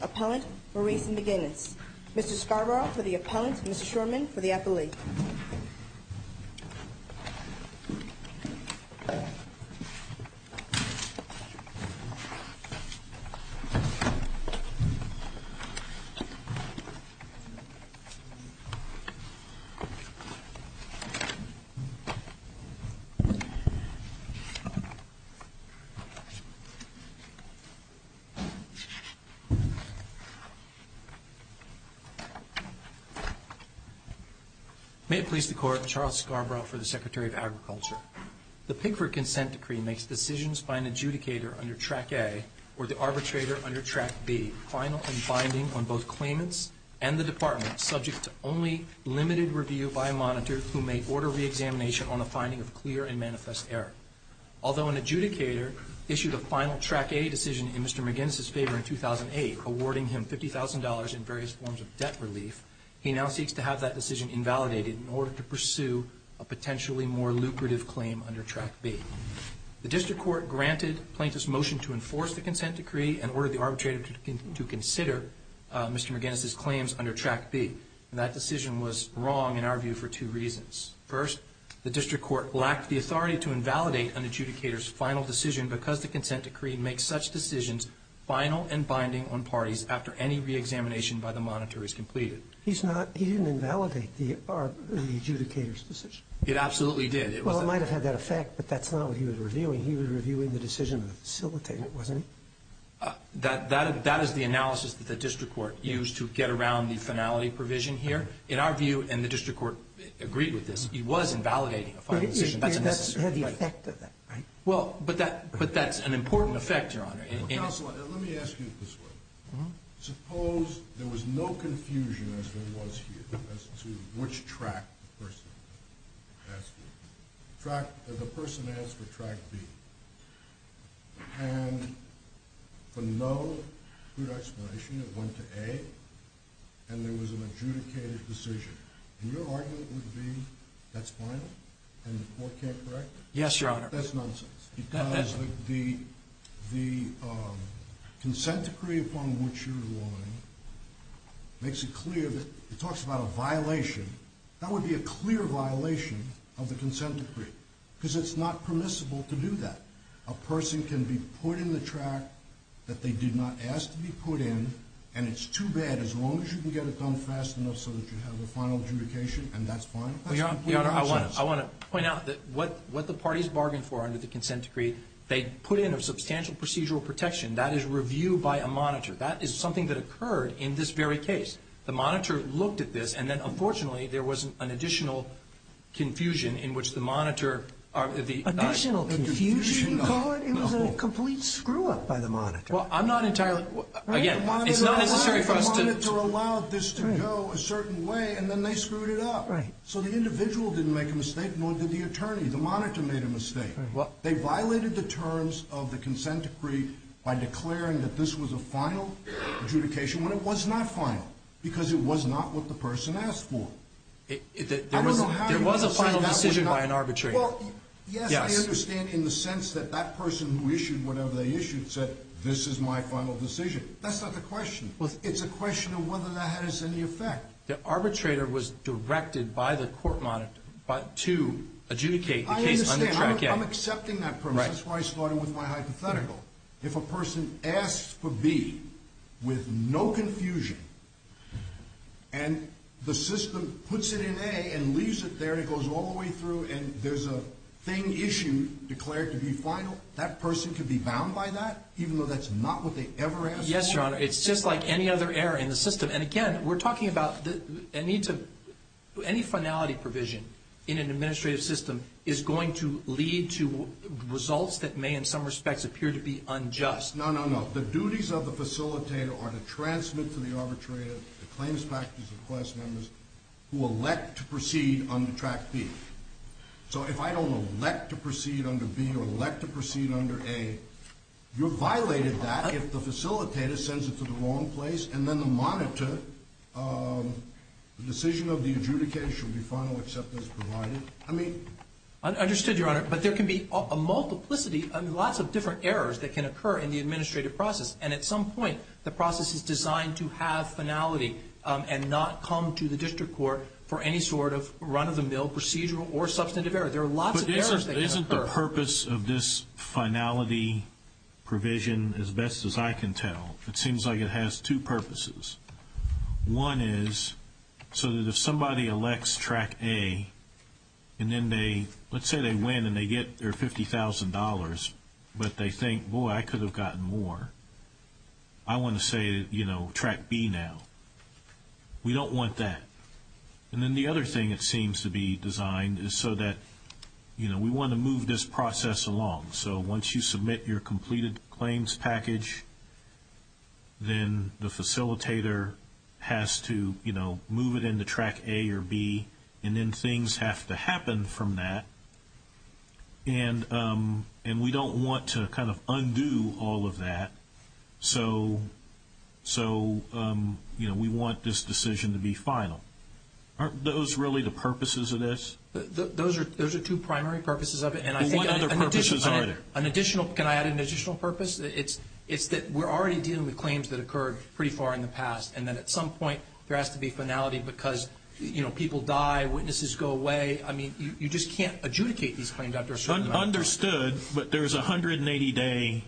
Appellant, Maurice McGinnis Mr. Scarborough for the appellant, Mr. Shurman for the appellee May it please the Court, Charles Scarborough for the Secretary of Agriculture. The Pigford Consent Decree makes decisions by an adjudicator under Track A or the arbitrator under Track B, final and binding on both claimants and the department, subject to only limited review by a monitor who may order reexamination on the finding of clear and manifest error. Although an adjudicator issued a final Track A decision in Mr. McGinnis' favor in 2008, awarding him $50,000 in various forms of debt relief, he now seeks to have that decision invalidated in order to pursue a potentially more lucrative claim under Track B. The district court granted plaintiffs' motion to enforce the Consent Decree and ordered the arbitrator to consider Mr. McGinnis' claims under Track B. That decision was wrong, in our view, for two reasons. First, the district court lacked the authority to invalidate an adjudicator's final decision because the Consent Decree makes such decisions final and binding on parties after any reexamination by the monitor is completed. He's not he didn't invalidate the adjudicator's decision. It absolutely did. Well, it might have had that effect, but that's not what he was reviewing. He was reviewing the decision of the facilitator, wasn't he? That is the analysis that the district court used to get around the finality provision here. In our view, and the district court agreed with this, he was invalidating a final decision. That's a necessary part of it. But it had the effect of that, right? Well, but that's an important effect, Your Honor. Counselor, let me ask you this way. Suppose there was no confusion as there was here as to which track the person asked for track B and for no good explanation it went to A and there was an adjudicated decision. And your argument would be that's final and the court can't correct it? Yes, Your Honor. That's nonsense because the Consent Decree upon which you're relying makes it clear that it talks about a violation. That would be a clear violation of the Consent Decree because it's not permissible to do that. A person can be put in the track that they did not ask to be put in and it's too bad as long as you can get it done fast enough so that you have a final adjudication and that's fine. That's completely nonsense. Well, Your Honor, I want to point out that what the parties bargained for under the Consent Decree, they put in a substantial procedural protection. That is review by a monitor. That is something that occurred in this very case. The monitor looked at this and then unfortunately there was an additional confusion in which the monitor... Additional confusion you call it? It was a complete screw-up by the monitor. Well, I'm not entirely... Again, it's not necessary for us to... The monitor allowed this to go a certain way and then they screwed it up. Right. So the individual didn't make a mistake nor did the attorney. The monitor made a mistake. Right. They violated the terms of the Consent Decree by declaring that this was a final adjudication when it was not final because it was not what the person asked for. There was a final decision by an arbitrator. Well, yes, I understand in the sense that that person who issued whatever they issued said, this is my final decision. That's not the question. It's a question of whether that has any effect. The arbitrator was directed by the court monitor to adjudicate the case under Track A. I understand. I'm accepting that premise. That's why I started with my hypothetical. If a person asks for B with no confusion and the system puts it in A and leaves it there and goes all the way through and there's a thing issued declared to be final, that person could be bound by that even though that's not what they ever asked for? Yes, Your Honor. It's just like any other error in the system. And, again, we're talking about any finality provision in an administrative system is going to lead to results that may in some respects appear to be unjust. No, no, no. The duties of the facilitator are to transmit to the arbitrator the claims factors of class members who elect to proceed under Track B. So if I don't elect to proceed under B or elect to proceed under A, you violated that if the facilitator sends it to the wrong place and then the monitor, the decision of the adjudicator should be final except as provided. Understood, Your Honor. But there can be a multiplicity, lots of different errors that can occur in the administrative process. And at some point the process is designed to have finality and not come to the district court for any sort of run-of-the-mill procedural or substantive error. There are lots of errors that can occur. But isn't the purpose of this finality provision, as best as I can tell, it seems like it has two purposes. One is so that if somebody elects Track A and then they, let's say they win and they get their $50,000, but they think, boy, I could have gotten more. I want to say, you know, Track B now. We don't want that. And then the other thing it seems to be designed is so that, you know, we want to move this process along. So once you submit your completed claims package, then the facilitator has to, you know, move it into Track A or B. And then things have to happen from that. And we don't want to kind of undo all of that. So, you know, we want this decision to be final. Aren't those really the purposes of this? Those are two primary purposes of it. What other purposes are there? Can I add an additional purpose? It's that we're already dealing with claims that occurred pretty far in the past, and then at some point there has to be finality because, you know, people die, witnesses go away. I mean, you just can't adjudicate these claims after a certain amount of time. Understood. But there's a 180-day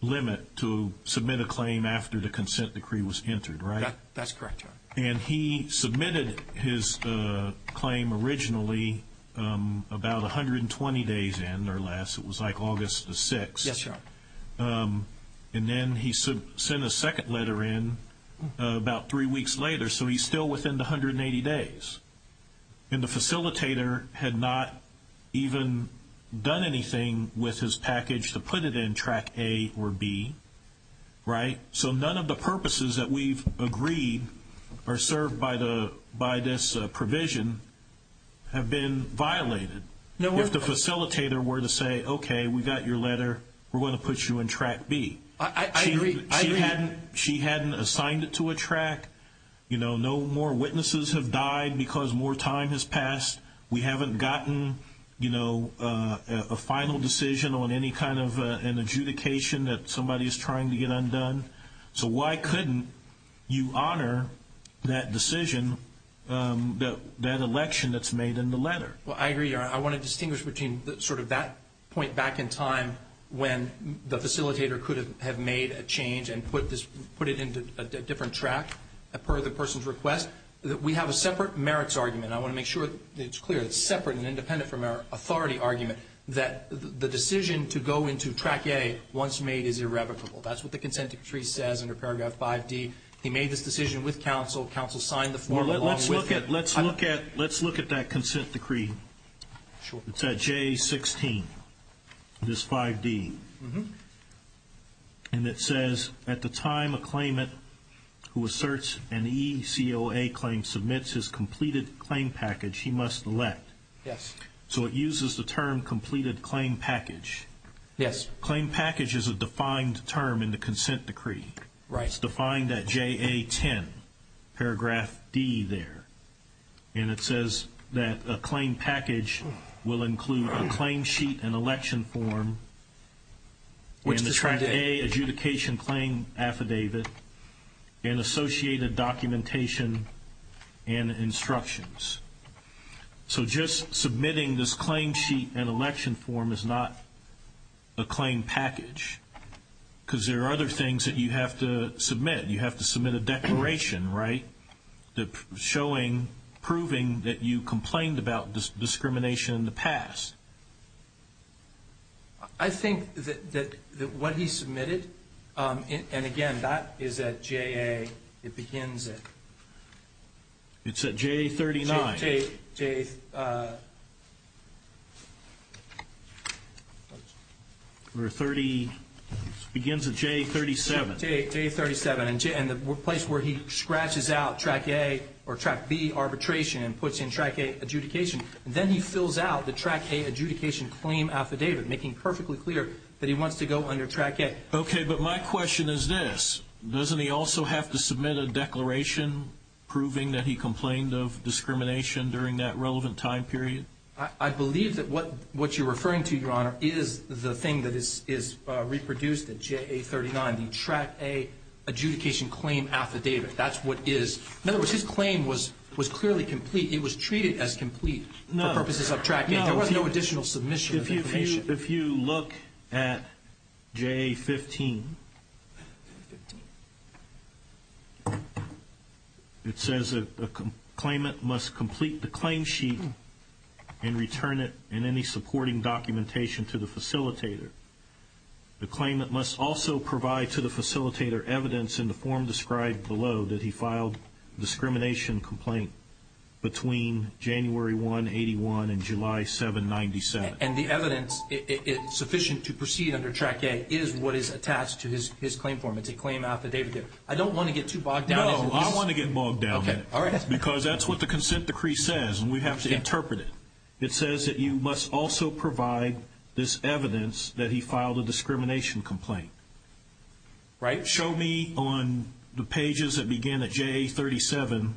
limit to submit a claim after the consent decree was entered, right? That's correct, Your Honor. And he submitted his claim originally about 120 days in or less. It was like August the 6th. Yes, Your Honor. And then he sent a second letter in about three weeks later. So he's still within the 180 days. And the facilitator had not even done anything with his package to put it in Track A or B, right? So none of the purposes that we've agreed are served by this provision have been violated. If the facilitator were to say, okay, we got your letter, we're going to put you in Track B. I agree. She hadn't assigned it to a track. You know, no more witnesses have died because more time has passed. We haven't gotten, you know, a final decision on any kind of an adjudication that somebody is trying to get undone. So why couldn't you honor that decision, that election that's made in the letter? Well, I agree, Your Honor. I want to distinguish between sort of that point back in time when the facilitator could have made a change and put it into a different track per the person's request. We have a separate merits argument. And I want to make sure that it's clear that it's separate and independent from our authority argument that the decision to go into Track A once made is irrevocable. That's what the consent decree says under Paragraph 5D. He made this decision with counsel. Counsel signed the form along with him. Let's look at that consent decree. Sure. It's at J16, this 5D. And it says, at the time a claimant who asserts an ECOA claim submits his completed claim package, he must elect. Yes. So it uses the term completed claim package. Yes. Claim package is a defined term in the consent decree. Right. It's defined at JA10, Paragraph D there. And it says that a claim package will include a claim sheet and election form and the Track A adjudication claim affidavit and associated documentation and instructions. So just submitting this claim sheet and election form is not a claim package because there are other things that you have to submit. You have to submit a declaration, right? Showing, proving that you complained about discrimination in the past. I think that what he submitted, and, again, that is at JA. It begins at. It's at J39. J. It begins at J37. J37. And the place where he scratches out Track A or Track B arbitration and puts in Track A adjudication, then he fills out the Track A adjudication claim affidavit, making perfectly clear that he wants to go under Track A. Okay. But my question is this. Doesn't he also have to submit a declaration proving that he complained of discrimination during that relevant time period? I believe that what you're referring to, Your Honor, is the thing that is reproduced at JA39, the Track A adjudication claim affidavit. That's what is. In other words, his claim was clearly complete. It was treated as complete for purposes of Track A. There was no additional submission of information. If you look at JA15, it says a claimant must complete the claim sheet and return it in any supporting documentation to the facilitator. The claimant must also provide to the facilitator evidence in the form described below that he filed discrimination complaint between January 1, 81 and July 7, 97. And the evidence sufficient to proceed under Track A is what is attached to his claim form. It's a claim affidavit. I don't want to get too bogged down. No, I want to get bogged down. Okay, all right. Because that's what the consent decree says, and we have to interpret it. It says that you must also provide this evidence that he filed a discrimination complaint. Right. Show me on the pages that begin at JA37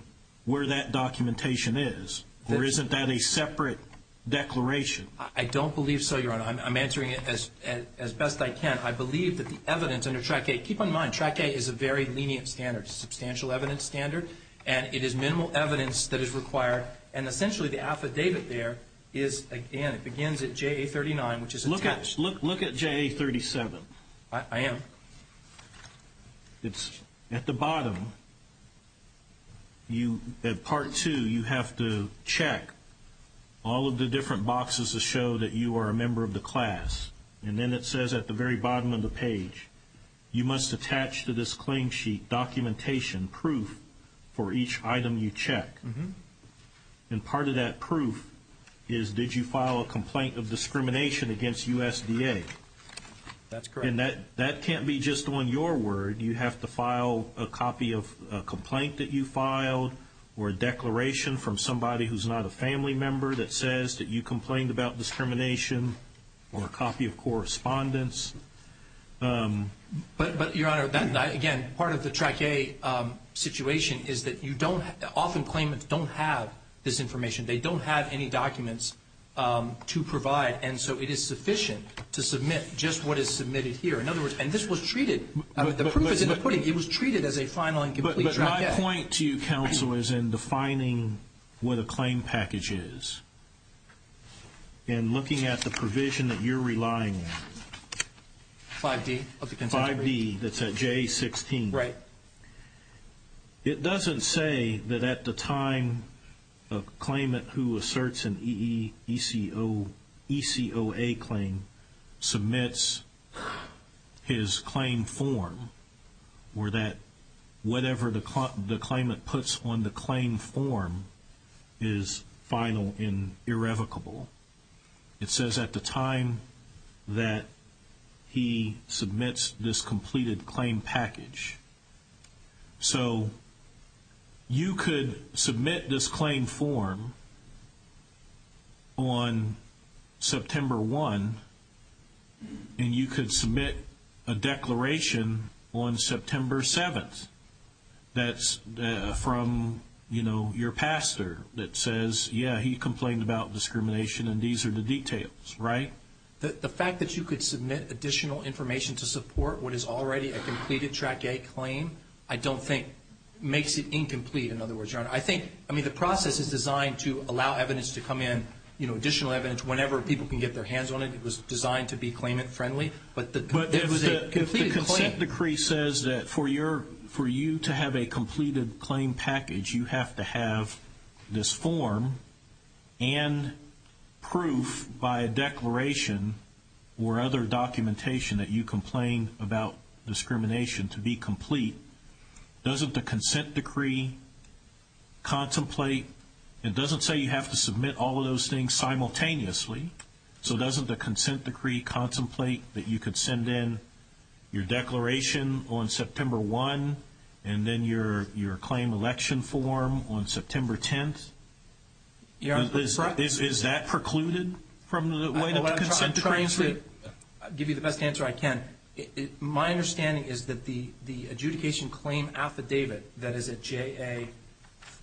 where that documentation is, or isn't that a separate declaration? I don't believe so, Your Honor. I'm answering it as best I can. I believe that the evidence under Track A, keep in mind, Track A is a very lenient standard, a substantial evidence standard, and it is minimal evidence that is required. And essentially the affidavit there is, again, it begins at JA39, which is attached. Look at JA37. I am. It's at the bottom. At Part 2, you have to check all of the different boxes that show that you are a member of the class. You must attach to this claim sheet documentation, proof for each item you check. And part of that proof is, did you file a complaint of discrimination against USDA? That's correct. And that can't be just on your word. You have to file a copy of a complaint that you filed or a declaration from somebody who's not a family member that says that you complained about discrimination or a copy of correspondence. But, Your Honor, again, part of the Track A situation is that often claimants don't have this information. They don't have any documents to provide, and so it is sufficient to submit just what is submitted here. In other words, and this was treated, the proof is in the pudding. It was treated as a final and complete Track A. But my point to you, Counsel, is in defining what a claim package is and looking at the provision that you're relying on. 5D. 5D, that's at J16. Right. It doesn't say that at the time a claimant who asserts an ECOA claim submits his claim form or that whatever the claimant puts on the claim form is final and irrevocable. It says at the time that he submits this completed claim package. So you could submit this claim form on September 1, and you could submit a declaration on September 7. That's from your pastor that says, yeah, he complained about discrimination, and these are the details, right? The fact that you could submit additional information to support what is already a completed Track A claim, I don't think makes it incomplete, in other words, Your Honor. I think, I mean, the process is designed to allow evidence to come in, you know, additional evidence, whenever people can get their hands on it. It was designed to be claimant-friendly. But if the consent decree says that for you to have a completed claim package, you have to have this form and proof by a declaration or other documentation that you complained about discrimination to be complete, doesn't the consent decree contemplate, it doesn't say you have to submit all of those things simultaneously, so doesn't the consent decree contemplate that you could send in your declaration on September 1 and then your claim election form on September 10? Is that precluded from the consent decree? I'm trying to give you the best answer I can. My understanding is that the adjudication claim affidavit that is at J.A.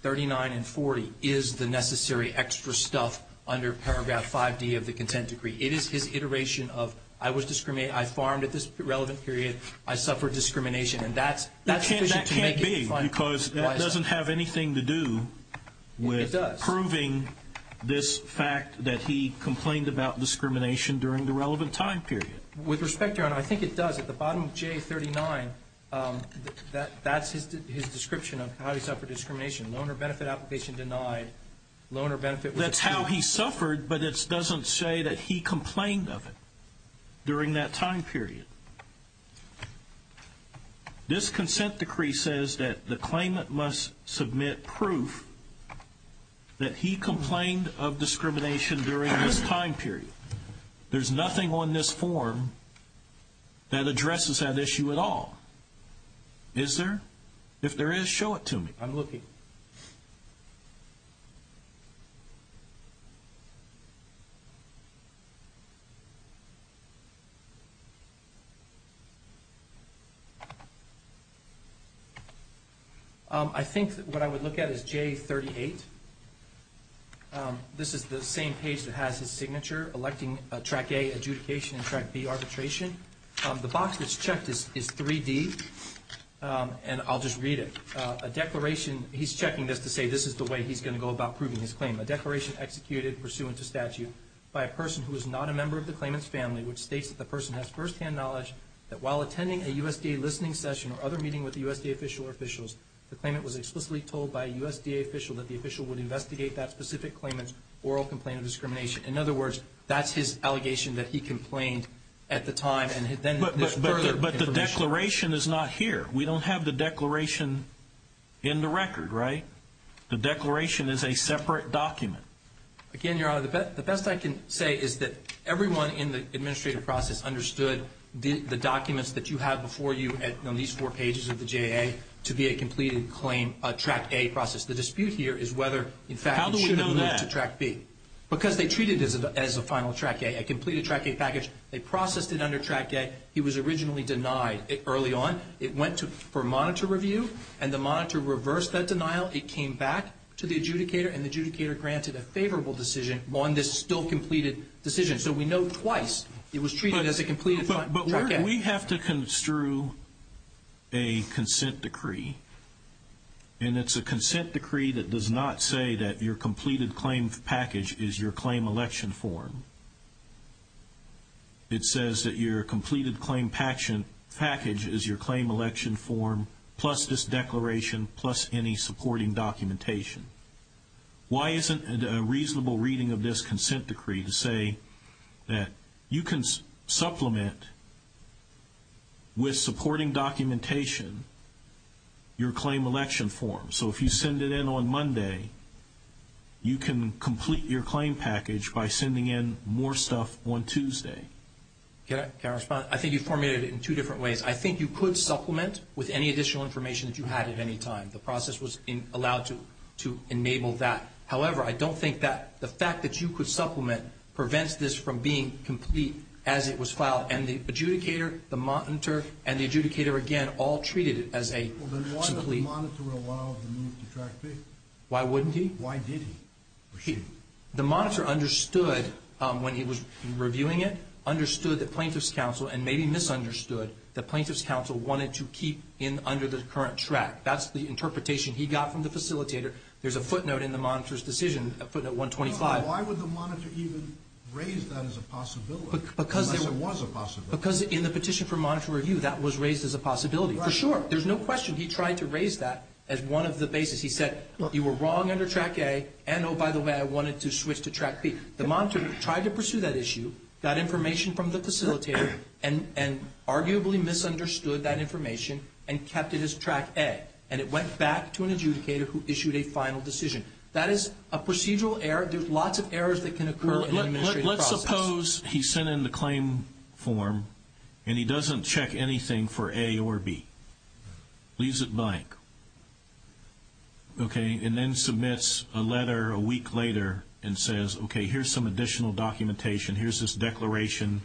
39 and 40 is the necessary extra stuff under Paragraph 5D of the consent decree. It is his iteration of, I was discriminated, I farmed at this relevant period, I suffered discrimination. And that's sufficient to make it claimant-friendly. That can't be because that doesn't have anything to do with proving this fact that he complained about discrimination during the relevant time period. With respect, Your Honor, I think it does. At the bottom of J.A. 39, that's his description of how he suffered discrimination, but it doesn't say that he complained of it during that time period. This consent decree says that the claimant must submit proof that he complained of discrimination during this time period. There's nothing on this form that addresses that issue at all. Is there? If there is, show it to me. I'm looking. I think what I would look at is J.A. 38. This is the same page that has his signature electing Track A, adjudication, and Track B, arbitration. The box that's checked is 3D, and I'll just read it. He's checking this to say this is the way he's going to go about proving his claim. A declaration executed pursuant to statute by a person who is not a member of the claimant's family, which states that the person has firsthand knowledge that while attending a USDA listening session or other meeting with the USDA official or officials, the claimant was explicitly told by a USDA official that the official would investigate that specific claimant's oral complaint of discrimination. In other words, that's his allegation that he complained at the time and then there's further information. But the declaration is not here. We don't have the declaration in the record, right? The declaration is a separate document. Again, Your Honor, the best I can say is that everyone in the administrative process understood the documents that you have before you on these four pages of the J.A. to be a completed claim, a Track A process. The dispute here is whether, in fact, it should have moved to Track B. How do we know that? Because they treated it as a final Track A, a completed Track A package. They processed it under Track A. He was originally denied it early on. It went for monitor review, and the monitor reversed that denial. It came back to the adjudicator, and the adjudicator granted a favorable decision on this still completed decision. So we know twice it was treated as a completed Track A. But we have to construe a consent decree, and it's a consent decree that does not say that your completed claim package is your claim election form. It says that your completed claim package is your claim election form, plus this declaration, plus any supporting documentation. Why isn't it a reasonable reading of this consent decree to say that you can supplement, with supporting documentation, your claim election form? So if you send it in on Monday, you can complete your claim package by sending in more stuff on Tuesday. Can I respond? I think you formulated it in two different ways. I think you could supplement with any additional information that you had at any time. The process was allowed to enable that. However, I don't think that the fact that you could supplement prevents this from being complete as it was filed, and the adjudicator, the monitor, and the adjudicator, again, all treated it as a complete. Well, then why does the monitor allow the move to Track B? Why wouldn't he? Why did he? The monitor understood when he was reviewing it, understood that plaintiff's counsel, and maybe misunderstood that plaintiff's counsel wanted to keep in under the current track. That's the interpretation he got from the facilitator. There's a footnote in the monitor's decision, footnote 125. Why would the monitor even raise that as a possibility, unless it was a possibility? Because in the petition for monitor review, that was raised as a possibility, for sure. There's no question he tried to raise that as one of the bases. He said, you were wrong under Track A, and, oh, by the way, I wanted to switch to Track B. The monitor tried to pursue that issue, got information from the facilitator, and arguably misunderstood that information and kept it as Track A, and it went back to an adjudicator who issued a final decision. That is a procedural error. There's lots of errors that can occur in an administrative process. Suppose he sent in the claim form and he doesn't check anything for A or B, leaves it blank, and then submits a letter a week later and says, okay, here's some additional documentation, here's this declaration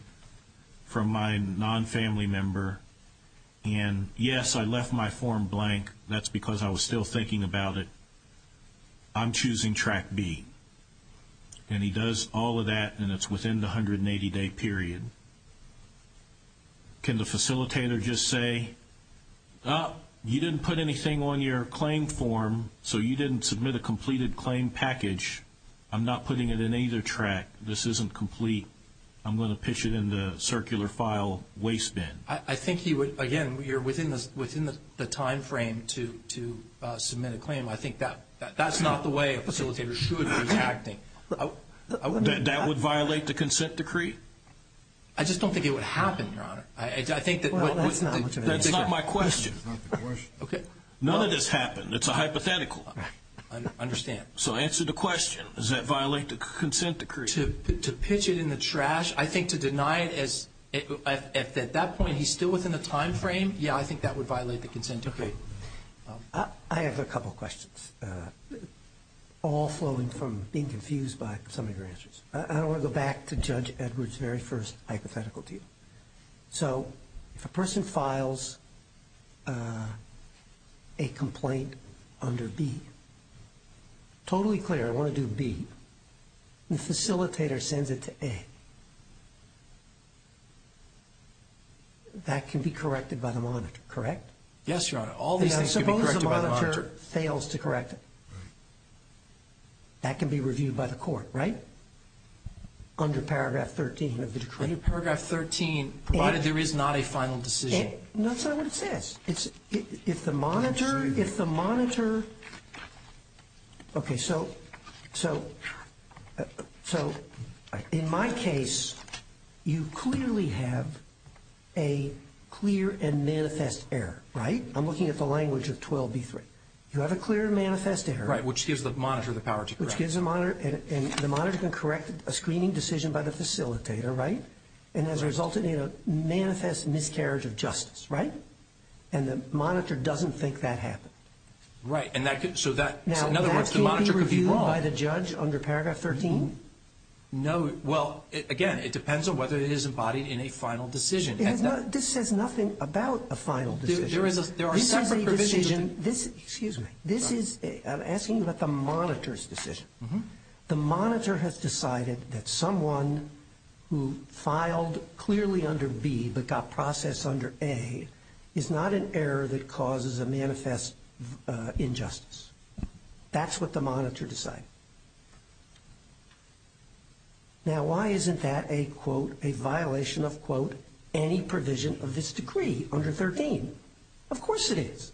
from my non-family member, and, yes, I left my form blank. That's because I was still thinking about it. I'm choosing Track B. And he does all of that, and it's within the 180-day period. Can the facilitator just say, oh, you didn't put anything on your claim form, so you didn't submit a completed claim package. I'm not putting it in either track. This isn't complete. I'm going to pitch it in the circular file waste bin. I think he would, again, you're within the timeframe to submit a claim. I think that's not the way a facilitator should be acting. That would violate the consent decree? I just don't think it would happen, Your Honor. That's not my question. None of this happened. It's a hypothetical. I understand. So answer the question. Does that violate the consent decree? To pitch it in the trash, I think to deny it at that point, he's still within the timeframe, yeah, I think that would violate the consent decree. I have a couple of questions, all flowing from being confused by some of your answers. I want to go back to Judge Edwards' very first hypothetical to you. So if a person files a complaint under B, totally clear, I want to do B. The facilitator sends it to A. That can be corrected by the monitor, correct? Yes, Your Honor. All these things can be corrected by the monitor. Suppose the monitor fails to correct it. That can be reviewed by the court, right, under Paragraph 13 of the decree? Under Paragraph 13, provided there is not a final decision. That's not what it says. If the monitor, if the monitor, okay, so in my case, you clearly have a clear and manifest error, right? I'm looking at the language of 12B3. You have a clear and manifest error. Right, which gives the monitor the power to correct it. Which gives the monitor, and the monitor can correct a screening decision by the facilitator, right? And as a result, it manifests miscarriage of justice, right? And the monitor doesn't think that happened. Right, so in other words, the monitor could be wrong. Now, that can't be reviewed by the judge under Paragraph 13? No. Well, again, it depends on whether it is embodied in a final decision. This says nothing about a final decision. There are separate provisions. This is a decision. Excuse me. I'm asking you about the monitor's decision. The monitor has decided that someone who filed clearly under B but got processed under A is not an error that causes a manifest injustice. That's what the monitor decided. Now, why isn't that a, quote, a violation of, quote, any provision of this decree under 13? Of course it is.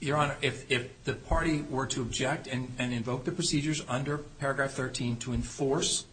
Your Honor, if the party were to object and invoke the procedures under Paragraph 13 to enforce,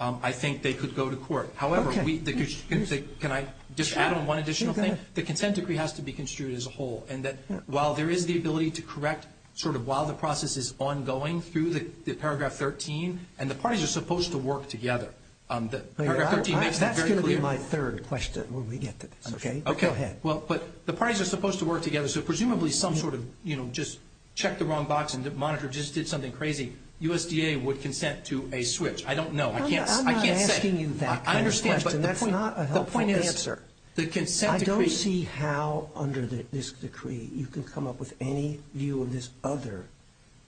I think they could go to court. However, can I just add on one additional thing? The consent decree has to be construed as a whole, and that while there is the ability to correct sort of while the process is ongoing through the Paragraph 13, and the parties are supposed to work together, the Paragraph 13 makes that very clear. That's going to be my third question when we get to this, okay? Okay. Go ahead. Well, but the parties are supposed to work together, so presumably some sort of, you know, just check the wrong box and the monitor just did something crazy, USDA would consent to a switch. I don't know. I can't say. I'm not asking you that kind of question. That's not a helpful answer. I don't see how under this decree you can come up with any view of this other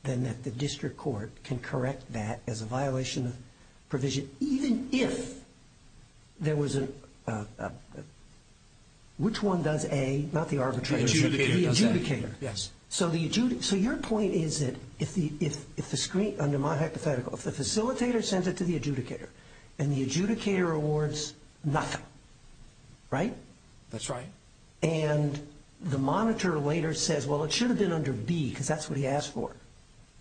than that the district court can correct that as a violation of provision, even if there was a, which one does A, not the arbitrator, the adjudicator. Yes. So your point is that if the screen, under my hypothetical, if the facilitator sends it to the adjudicator and the adjudicator awards nothing, right? That's right. And the monitor later says, well, it should have been under B because that's what he asked for.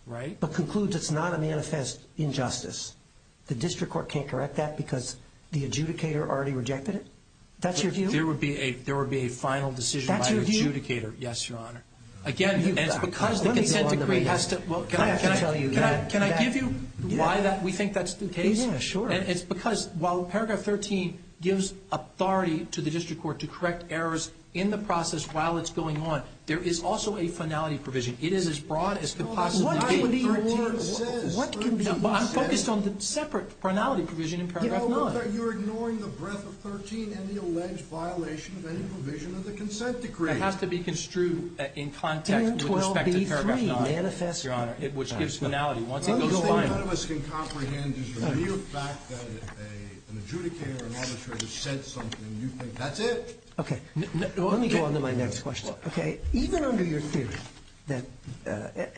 Right. But concludes it's not a manifest injustice. The district court can't correct that because the adjudicator already rejected it. That's your view? There would be a final decision by the adjudicator. That's your view? Yes, Your Honor. Again, it's because the consent decree has to, well, can I give you why we think that's the case? Yeah, sure. And it's because while paragraph 13 gives authority to the district court to correct errors in the process while it's going on, there is also a finality provision. It is as broad as could possibly be. I'm focused on the separate finality provision in paragraph 9. You're ignoring the breadth of 13 and the alleged violation of any provision of the consent decree. It has to be construed in context with respect to paragraph 9, Your Honor, which gives finality. Once it goes to the final. The only thing none of us can comprehend is the mere fact that an adjudicator or an auditor has said something and you think that's it. Okay. Let me go on to my next question. Okay. Even under your theory that,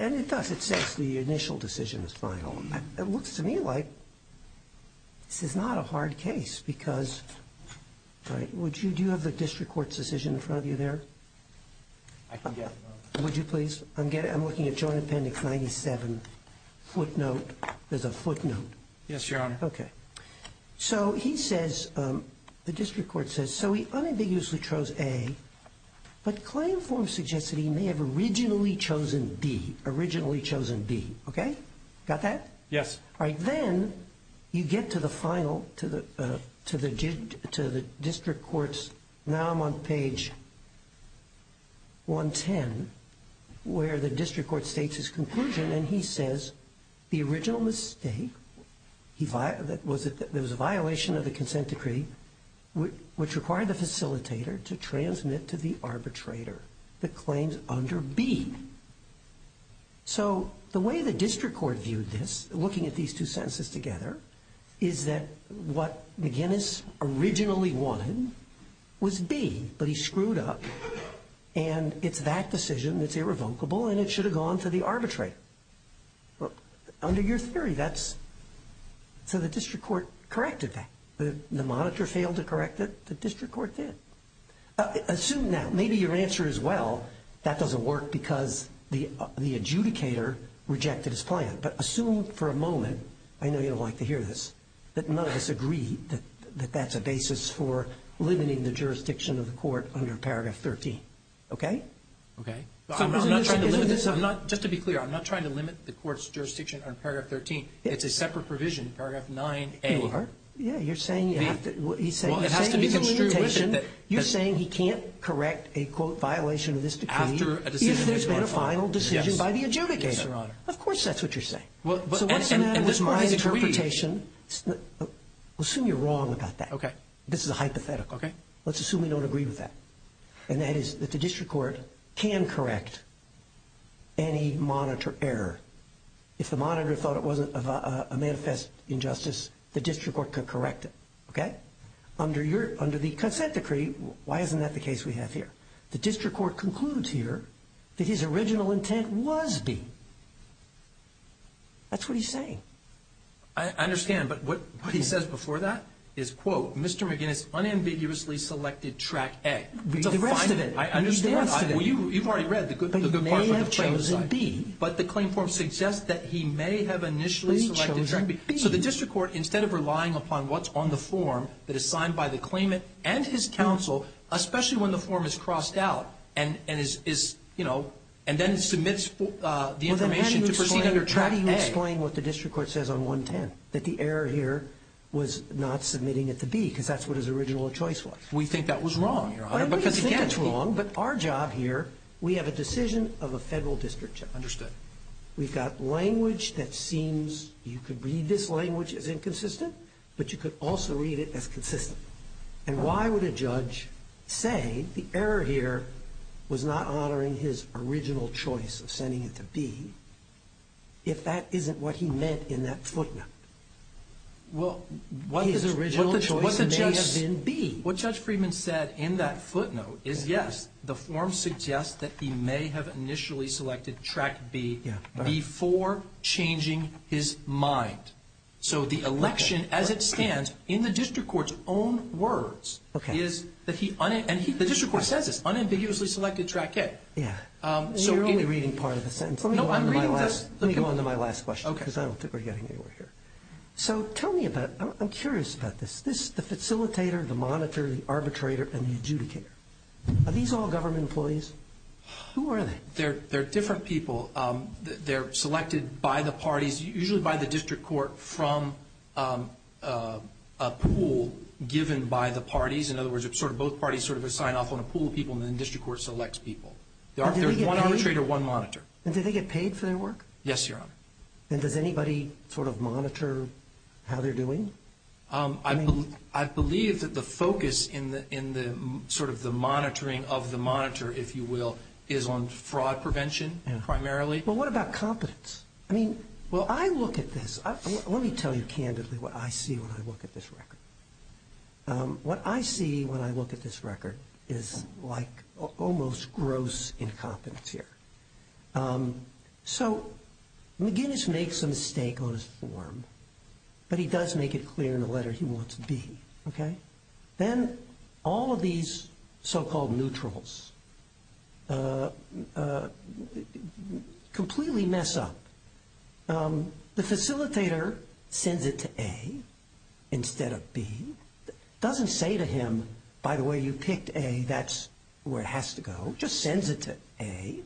and it does, it says the initial decision is final. It looks to me like this is not a hard case because, right, would you, do you have the district court's decision in front of you there? I can get it. Would you please? I'm looking at Joint Appendix 97 footnote. There's a footnote. Yes, Your Honor. Okay. So he says, the district court says, so he unambiguously chose A, but claim form suggests that he may have originally chosen B, originally chosen B. Okay? Got that? Yes. All right. Then you get to the final, to the district court's, now I'm on page 110, where the district court states his conclusion and he says the original mistake, there was a violation of the consent decree which required the facilitator to transmit to the arbitrator the claims under B. So the way the district court viewed this, looking at these two sentences together, is that what McGinnis originally wanted was B, but he screwed up, and it's that decision that's irrevocable and it should have gone to the arbitrator. Under your theory, that's, so the district court corrected that. The monitor failed to correct it. The district court did. Assume now, maybe your answer is, well, that doesn't work because the adjudicator rejected his plan. But assume for a moment, I know you'll like to hear this, that none of us agree that that's a basis for limiting the jurisdiction of the court under Paragraph 13. Okay? Okay. I'm not trying to limit this. It's a separate provision in Paragraph 9A. You are. Yeah, you're saying you have to, he's saying he's in limitation. You're saying he can't correct a, quote, violation of this decree if there's been a final decision by the adjudicator. Yes, Your Honor. Of course that's what you're saying. So what's the matter with my interpretation? Assume you're wrong about that. Okay. This is a hypothetical. Okay. Let's assume we don't agree with that. And that is that the district court can correct any monitor error. If the monitor thought it wasn't a manifest injustice, the district court could correct it. Okay? Under the consent decree, why isn't that the case we have here? The district court concludes here that his original intent was B. That's what he's saying. I understand. But what he says before that is, quote, Mr. McGinnis unambiguously selected track A. Read the rest of it. I understand. Read the rest of it. You've already read the good part from the claimant's side. But he may have chosen B. But the claim form suggests that he may have initially selected track B. He chose B. So the district court, instead of relying upon what's on the form that is signed by the claimant and his counsel, especially when the form is crossed out and is, you know, and then submits the information to proceed under track A. Well, then try to explain what the district court says on 110, that the error here was not submitting it to B, because that's what his original choice was. We think that was wrong, Your Honor. Because, again, it's wrong. But our job here, we have a decision of a federal district judge. Understood. We've got language that seems you could read this language as inconsistent, but you could also read it as consistent. And why would a judge say the error here was not honoring his original choice of sending it to B, if that isn't what he meant in that footnote? Well, what the judge – His original choice may have been B. What Judge Friedman said in that footnote is, yes, the form suggests that he may have initially selected track B before changing his mind. So the election, as it stands, in the district court's own words, is that he – and the district court says this, unambiguously selected track A. Yeah. You're only reading part of the sentence. No, I'm reading this. Let me go on to my last question, because I don't think we're getting anywhere here. So tell me about – I'm curious about this. The facilitator, the monitor, the arbitrator, and the adjudicator, are these all government employees? Who are they? They're different people. They're selected by the parties, usually by the district court, from a pool given by the parties. In other words, it's sort of both parties sort of assign off on a pool of people, and then the district court selects people. There's one arbitrator, one monitor. And do they get paid for their work? Yes, Your Honor. And does anybody sort of monitor how they're doing? I believe that the focus in the sort of the monitoring of the monitor, if you will, is on fraud prevention primarily. Well, what about competence? I mean, when I look at this – let me tell you candidly what I see when I look at this record. What I see when I look at this record is like almost gross incompetence here. So McGinnis makes a mistake on his form, but he does make it clear in the letter he wants B. Then all of these so-called neutrals completely mess up. The facilitator sends it to A instead of B. Doesn't say to him, by the way, you picked A, that's where it has to go. Just sends it to A.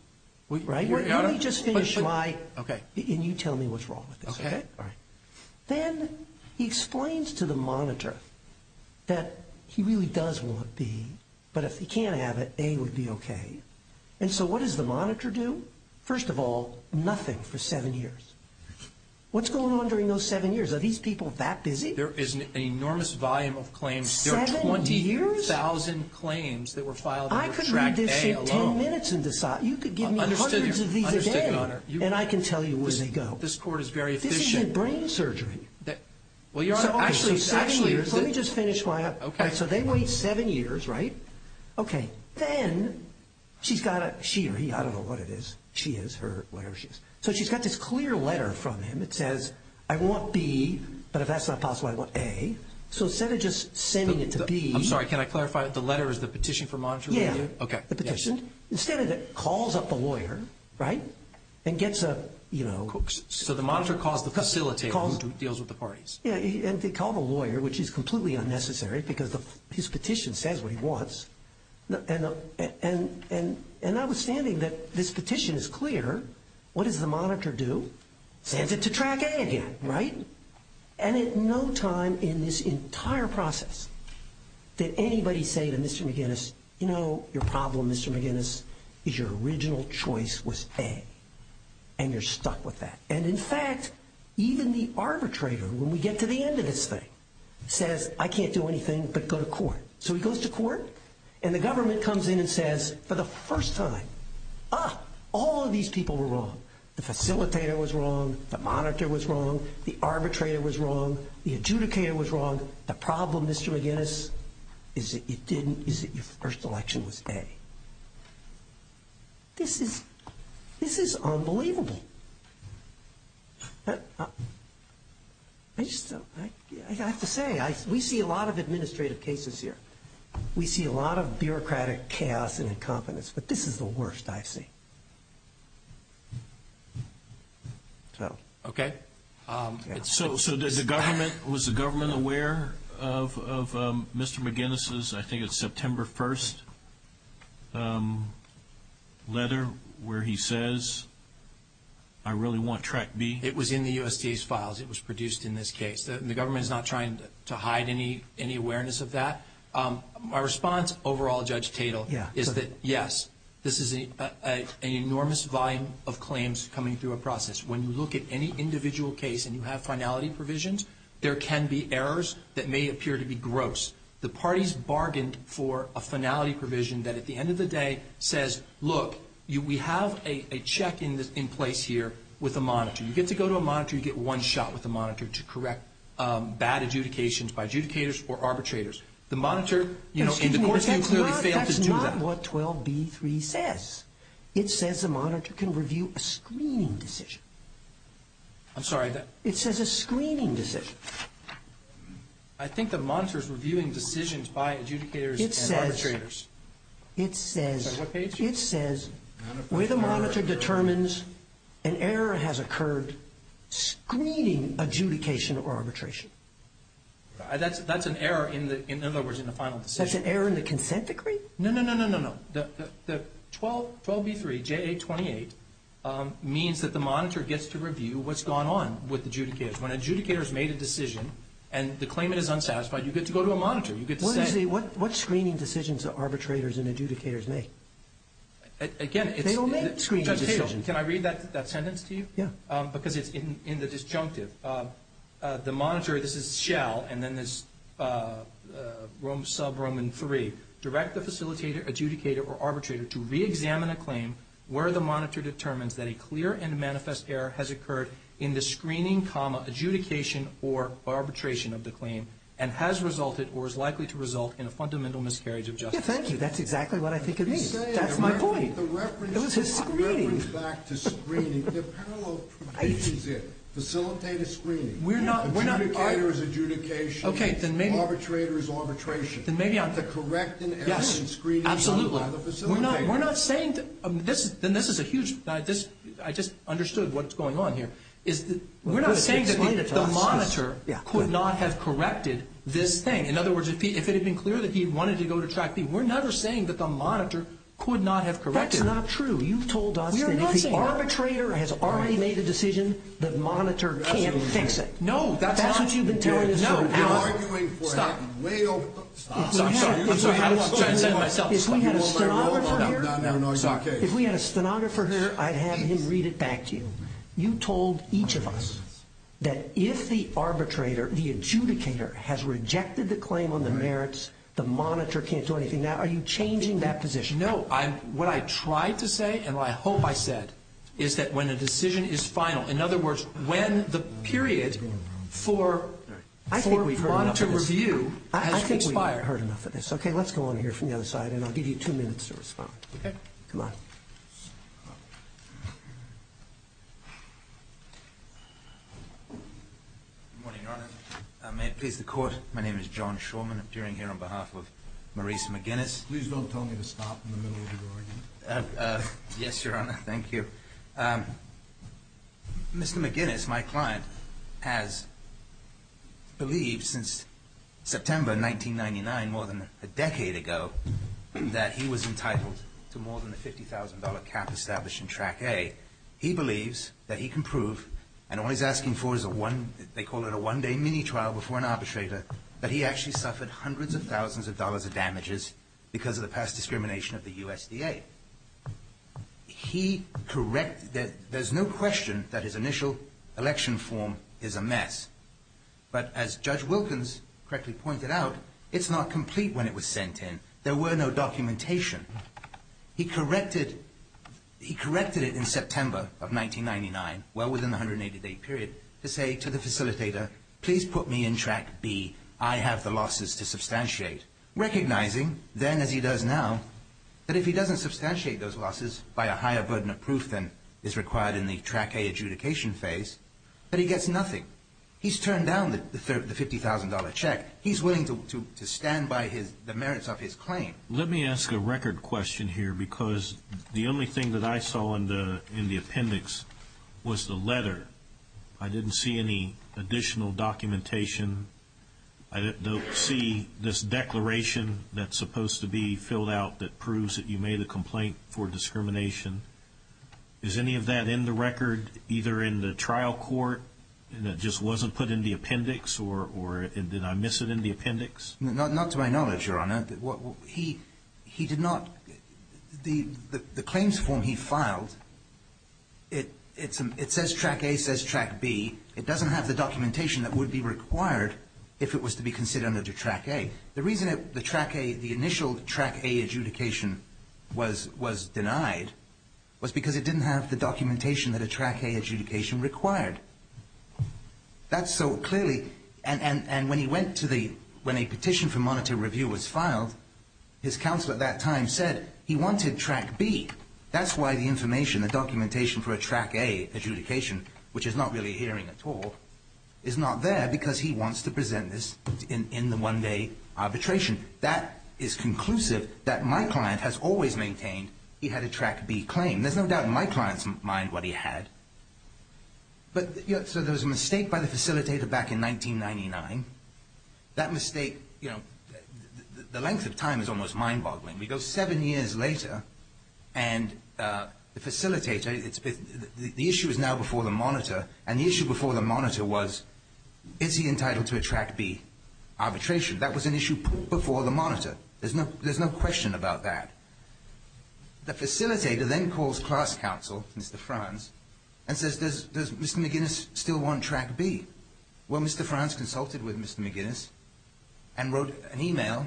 Let me just finish my – and you tell me what's wrong with this. Then he explains to the monitor that he really does want B, but if he can't have it, A would be okay. And so what does the monitor do? First of all, nothing for seven years. What's going on during those seven years? Are these people that busy? There is an enormous volume of claims. Seven years? I could read this in ten minutes and decide. You could give me hundreds of these a day, and I can tell you where they go. This is your brain surgery. Well, Your Honor, actually – Let me just finish my – so they wait seven years, right? Okay. Then she's got a – she or he, I don't know what it is. She is, her, whatever she is. So she's got this clear letter from him that says, I want B, but if that's not possible, I want A. So instead of just sending it to B – I'm sorry, can I clarify? The letter is the petition for monitor? Yeah. Okay. The petition. Instead of that, calls up the lawyer, right, and gets a – So the monitor calls the facilitator who deals with the parties. Yeah, and they call the lawyer, which is completely unnecessary because his petition says what he wants. And notwithstanding that this petition is clear, what does the monitor do? Sends it to Track A again, right? And at no time in this entire process did anybody say to Mr. McGinnis, you know, your problem, Mr. McGinnis, is your original choice was A, and you're stuck with that. And, in fact, even the arbitrator, when we get to the end of this thing, says, I can't do anything but go to court. So he goes to court, and the government comes in and says, for the first time, ah, all of these people were wrong. The facilitator was wrong. The monitor was wrong. The arbitrator was wrong. The adjudicator was wrong. The problem, Mr. McGinnis, is that you didn't – is that your first election was A. This is – this is unbelievable. I just – I have to say, we see a lot of administrative cases here. We see a lot of bureaucratic chaos and incompetence, but this is the worst I've seen. So. Okay. So does the government – was the government aware of Mr. McGinnis's, I think it's September 1st, letter where he says, I really want Track B? It was in the USDA's files. It was produced in this case. And the government is not trying to hide any awareness of that. My response overall, Judge Tatel, is that, yes, this is an enormous volume of claims coming through a process. When you look at any individual case and you have finality provisions, there can be errors that may appear to be gross. The parties bargained for a finality provision that, at the end of the day, says, look, we have a check in place here with a monitor. You get to go to a monitor, you get one shot with a monitor to correct bad adjudications by adjudicators or arbitrators. The monitor – Excuse me. That's not what 12B3 says. It says a monitor can review a screening decision. I'm sorry. It says a screening decision. I think the monitor is reviewing decisions by adjudicators and arbitrators. It says – What page is it? It says where the monitor determines an error has occurred screening adjudication or arbitration. That's an error in the – in other words, in the final decision. That's an error in the consent decree? No, no, no, no, no, no. The 12B3, JA28, means that the monitor gets to review what's gone on with adjudicators. When adjudicators made a decision and the claimant is unsatisfied, you get to go to a monitor. You get to say – Excuse me. What screening decisions do arbitrators and adjudicators make? Again, it's – They don't make screening decisions. Judge Cato, can I read that sentence to you? Yeah. Because it's in the disjunctive. The monitor – this is Shell, and then there's sub-Roman 3. Direct the facilitator, adjudicator, or arbitrator to reexamine a claim where the monitor determines that a clear and manifest error has occurred in the screening, adjudication, or arbitration of the claim and has resulted or is likely to result in a fundamental miscarriage of justice. Yeah, thank you. That's exactly what I think it means. That's my point. The reference – It was his screening. The reference back to screening. The parallel provision's here. Facilitator screening. We're not – Adjudicator is adjudication. Okay, then maybe – Arbitrator is arbitration. Then maybe I'm – Correct an error in screening done by the facilitator. Yes, absolutely. We're not saying – then this is a huge – I just understood what's going on here. We're not saying that the monitor could not have corrected this thing. In other words, if it had been clear that he wanted to go to Track B, we're never saying that the monitor could not have corrected it. That's not true. You've told us that if the arbitrator has already made a decision, the monitor can't fix it. No, that's not – That's what you've been telling us. No. Stop. Stop. I'm sorry. I said it myself. If we had a stenographer here – No, no, no. It's okay. If we had a stenographer here, I'd have him read it back to you. You told each of us that if the arbitrator, the adjudicator, has rejected the claim on the merits, the monitor can't do anything. Now, are you changing that position? No. What I tried to say and what I hope I said is that when a decision is final, in other words, when the period for monitor review has expired – I think we've heard enough of this. Okay, let's go on here from the other side, and I'll give you two minutes to respond. Okay. Come on. Good morning, Your Honor. May it please the Court, my name is John Shawman. I'm appearing here on behalf of Maurice McGinnis. Please don't tell me to stop in the middle of your argument. Yes, Your Honor. Thank you. Mr. McGinnis, my client, has believed since September 1999, more than a decade ago, that he was entitled to more than the $50,000 cap established in Track A. He believes that he can prove, and all he's asking for is a one – they call it a one-day mini-trial before an arbitrator – that he actually suffered hundreds of thousands of dollars of damages because of the past discrimination of the USDA. He correct – there's no question that his initial election form is a mess. But as Judge Wilkins correctly pointed out, it's not complete when it was sent in. There were no documentation. He corrected it in September of 1999, well within the 180-day period, to say to the facilitator, please put me in Track B. I have the losses to substantiate. Recognizing then, as he does now, that if he doesn't substantiate those losses by a higher burden of proof than is required in the Track A adjudication phase, that he gets nothing. He's turned down the $50,000 check. He's willing to stand by the merits of his claim. Let me ask a record question here, because the only thing that I saw in the appendix was the letter. I didn't see any additional documentation. I don't see this declaration that's supposed to be filled out that proves that you made a complaint for discrimination. Is any of that in the record, either in the trial court, and it just wasn't put in the appendix, or did I miss it in the appendix? Not to my knowledge, Your Honor. He did not, the claims form he filed, it says Track A says Track B. It doesn't have the documentation that would be required if it was to be considered under Track A. The reason the Track A, the initial Track A adjudication was denied was because it didn't have the documentation that a Track A adjudication required. That's so clearly, and when a petition for monitor review was filed, his counsel at that time said he wanted Track B. That's why the information, the documentation for a Track A adjudication, which is not really hearing at all, is not there because he wants to present this in the one-day arbitration. That is conclusive that my client has always maintained he had a Track B claim. There's no doubt in my client's mind what he had. So there was a mistake by the facilitator back in 1999. That mistake, the length of time is almost mind-boggling. We go seven years later, and the facilitator, the issue is now before the monitor, and the issue before the monitor was, is he entitled to a Track B arbitration? That was an issue before the monitor. There's no question about that. The facilitator then calls class counsel, Mr. Franz, and says, does Mr. McGuinness still want Track B? Well, Mr. Franz consulted with Mr. McGuinness and wrote an email,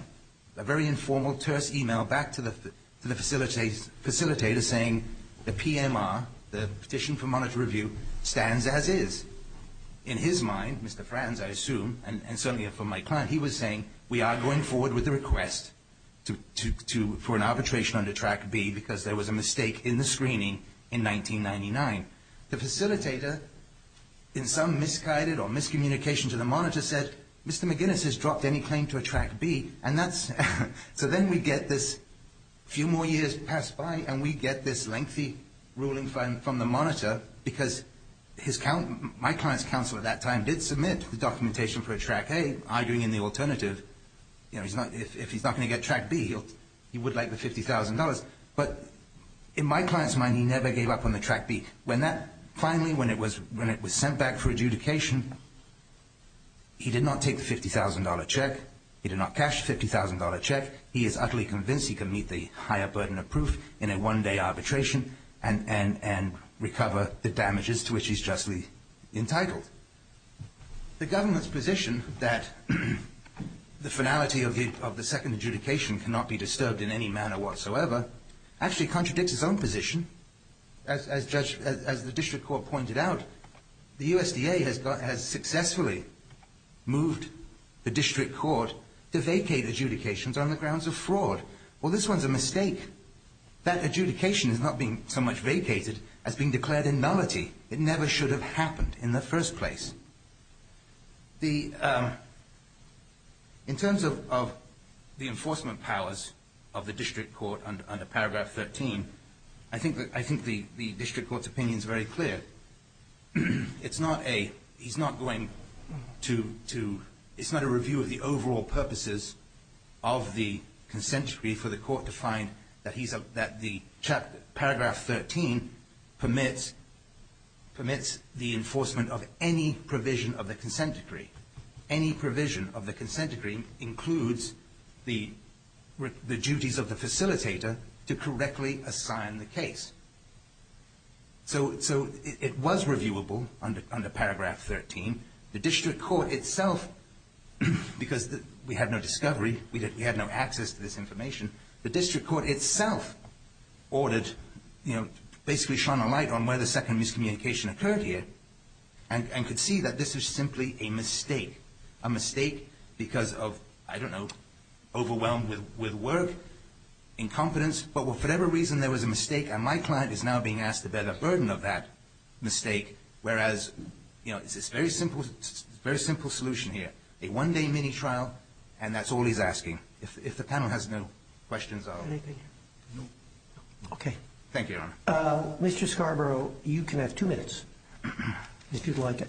a very informal, terse email, back to the facilitator saying the PMR, the petition for monitor review, stands as is. In his mind, Mr. Franz, I assume, and certainly for my client, he was saying, we are going forward with the request for an arbitration under Track B because there was a mistake in the screening in 1999. The facilitator, in some misguided or miscommunication to the monitor, said, Mr. McGuinness has dropped any claim to a Track B. So then we get this few more years pass by, and we get this lengthy ruling from the monitor because my client's counsel at that time did submit the documentation for a Track A, arguing in the alternative, if he's not going to get Track B, he would like the $50,000. But in my client's mind, he never gave up on the Track B. Finally, when it was sent back for adjudication, he did not take the $50,000 check. He did not cash the $50,000 check. He is utterly convinced he can meet the higher burden of proof in a one-day arbitration and recover the damages to which he's justly entitled. The government's position that the finality of the second adjudication cannot be disturbed in any manner whatsoever actually contradicts its own position. As the district court pointed out, the USDA has successfully moved the district court to vacate adjudications on the grounds of fraud. Well, this one's a mistake. That adjudication is not being so much vacated as being declared a nullity. It never should have happened in the first place. In terms of the enforcement powers of the district court under Paragraph 13, I think the district court's opinion is very clear. It's not a review of the overall purposes of the consensury for the court to find that the paragraph 13 permits the enforcement of any provision of the consent decree. Any provision of the consent decree includes the duties of the facilitator to correctly assign the case. So it was reviewable under Paragraph 13. The district court itself, because we had no discovery, we had no access to this information, the district court itself ordered, basically shone a light on where the second miscommunication occurred here and could see that this was simply a mistake, a mistake because of, I don't know, overwhelmed with work, incompetence, but for whatever reason there was a mistake and my client is now being asked to bear the burden of that mistake, whereas it's a very simple solution here, a one-day mini-trial, and that's all he's asking. If the panel has no questions, I'll go. Thank you, Your Honor. Mr. Scarborough, you can have two minutes if you'd like.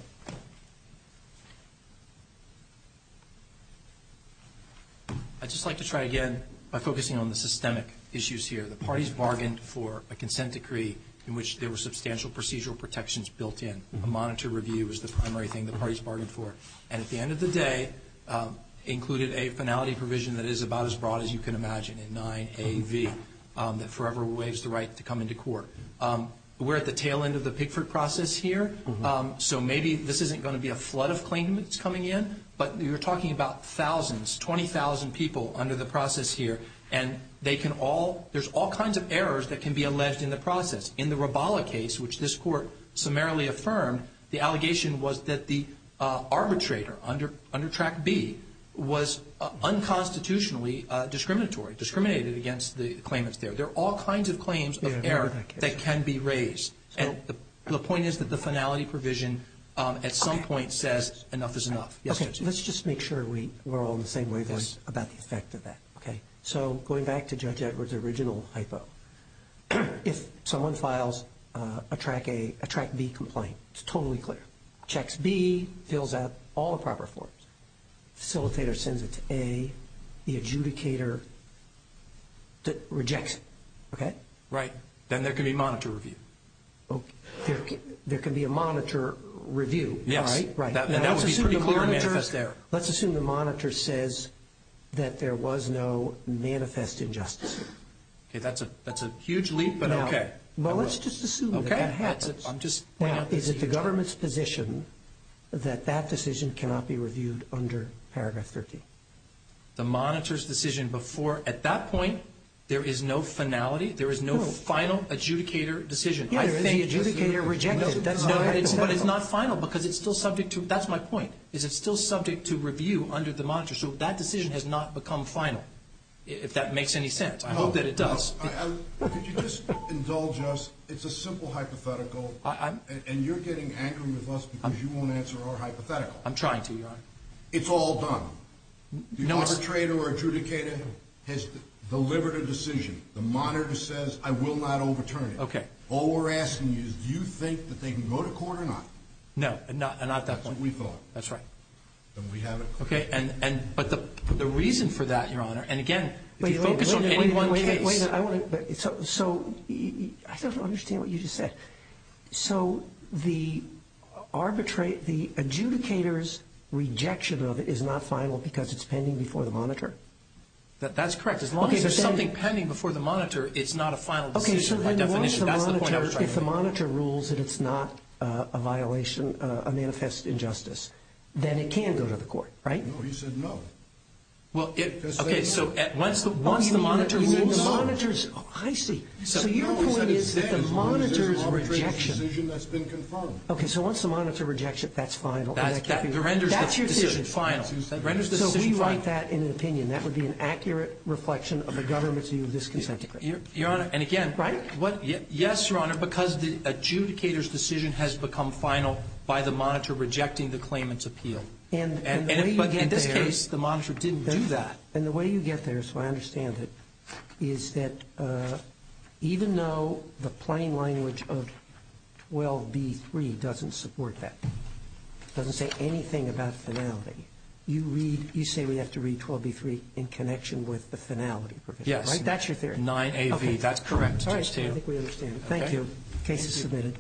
I'd just like to try again by focusing on the systemic issues here. The parties bargained for a consent decree in which there were substantial procedural protections built in. A monitor review is the primary thing the parties bargained for. And at the end of the day, included a finality provision that is about as broad as you can imagine, a 9AV that forever waives the right to come into court. We're at the tail end of the Pickford process here, so maybe this isn't going to be a flood of claimants coming in, but you're talking about thousands, 20,000 people under the process here, and there's all kinds of errors that can be alleged in the process. In the Roballa case, which this Court summarily affirmed, the allegation was that the arbitrator under Track B was unconstitutionally discriminatory, discriminated against the claimants there. There are all kinds of claims of error that can be raised. And the point is that the finality provision at some point says enough is enough. Okay. Let's just make sure we're all on the same wavelength about the effect of that. Okay. So going back to Judge Edwards' original hypo, if someone files a Track B complaint, it's totally clear. Checks B, fills out all the proper forms. Facilitator sends it to A. The adjudicator rejects it. Okay? Right. Then there can be monitor review. Okay. There can be a monitor review. Yes. Right. That would be pretty clear and manifest error. Let's assume the monitor says that there was no manifest injustice. Okay. That's a huge leap, but okay. Well, let's just assume that that happens. Okay. I'm just – Is it the government's position that that decision cannot be reviewed under paragraph 13? The monitor's decision before – at that point, there is no finality. There is no final adjudicator decision. Yeah, there is. Adjudicator rejected. That's not hypothetical. But it's not final because it's still subject to – that's my point. Is it still subject to review under the monitor? So that decision has not become final, if that makes any sense. I hope that it does. Could you just indulge us? It's a simple hypothetical, and you're getting angry with us because you won't answer our hypothetical. I'm trying to, Your Honor. It's all done. No, it's – The arbitrator or adjudicator has delivered a decision. The monitor says, I will not overturn it. Okay. All we're asking you is do you think that they can go to court or not? No, not at that point. That's what we thought. That's right. Then we have a question. Okay. But the reason for that, Your Honor – and again, if you focus on any one case – Wait a minute. Wait a minute. I want to – so I don't understand what you just said. So the arbitrate – the adjudicator's rejection of it is not final because it's pending before the monitor? That's correct. As long as there's something pending before the monitor, it's not a final decision by definition. If the monitor rules that it's not a violation, a manifest injustice, then it can go to the court, right? No, he said no. Okay. So once the monitor rules – I see. So your point is that the monitor's rejection – There's an arbitrary decision that's been confirmed. Okay. So once the monitor rejects it, that's final. That renders the decision final. So we write that in an opinion. That would be an accurate reflection of the government's view of this consent decree. Your Honor, and again – Is that right? Yes, Your Honor, because the adjudicator's decision has become final by the monitor rejecting the claimant's appeal. But in this case, the monitor didn't do that. And the way you get there, so I understand it, is that even though the plain language of 12b-3 doesn't support that, doesn't say anything about finality, you say we have to read 12b-3 in connection with the finality provision. Yes. Right? I think we understand. Thank you. The case is submitted.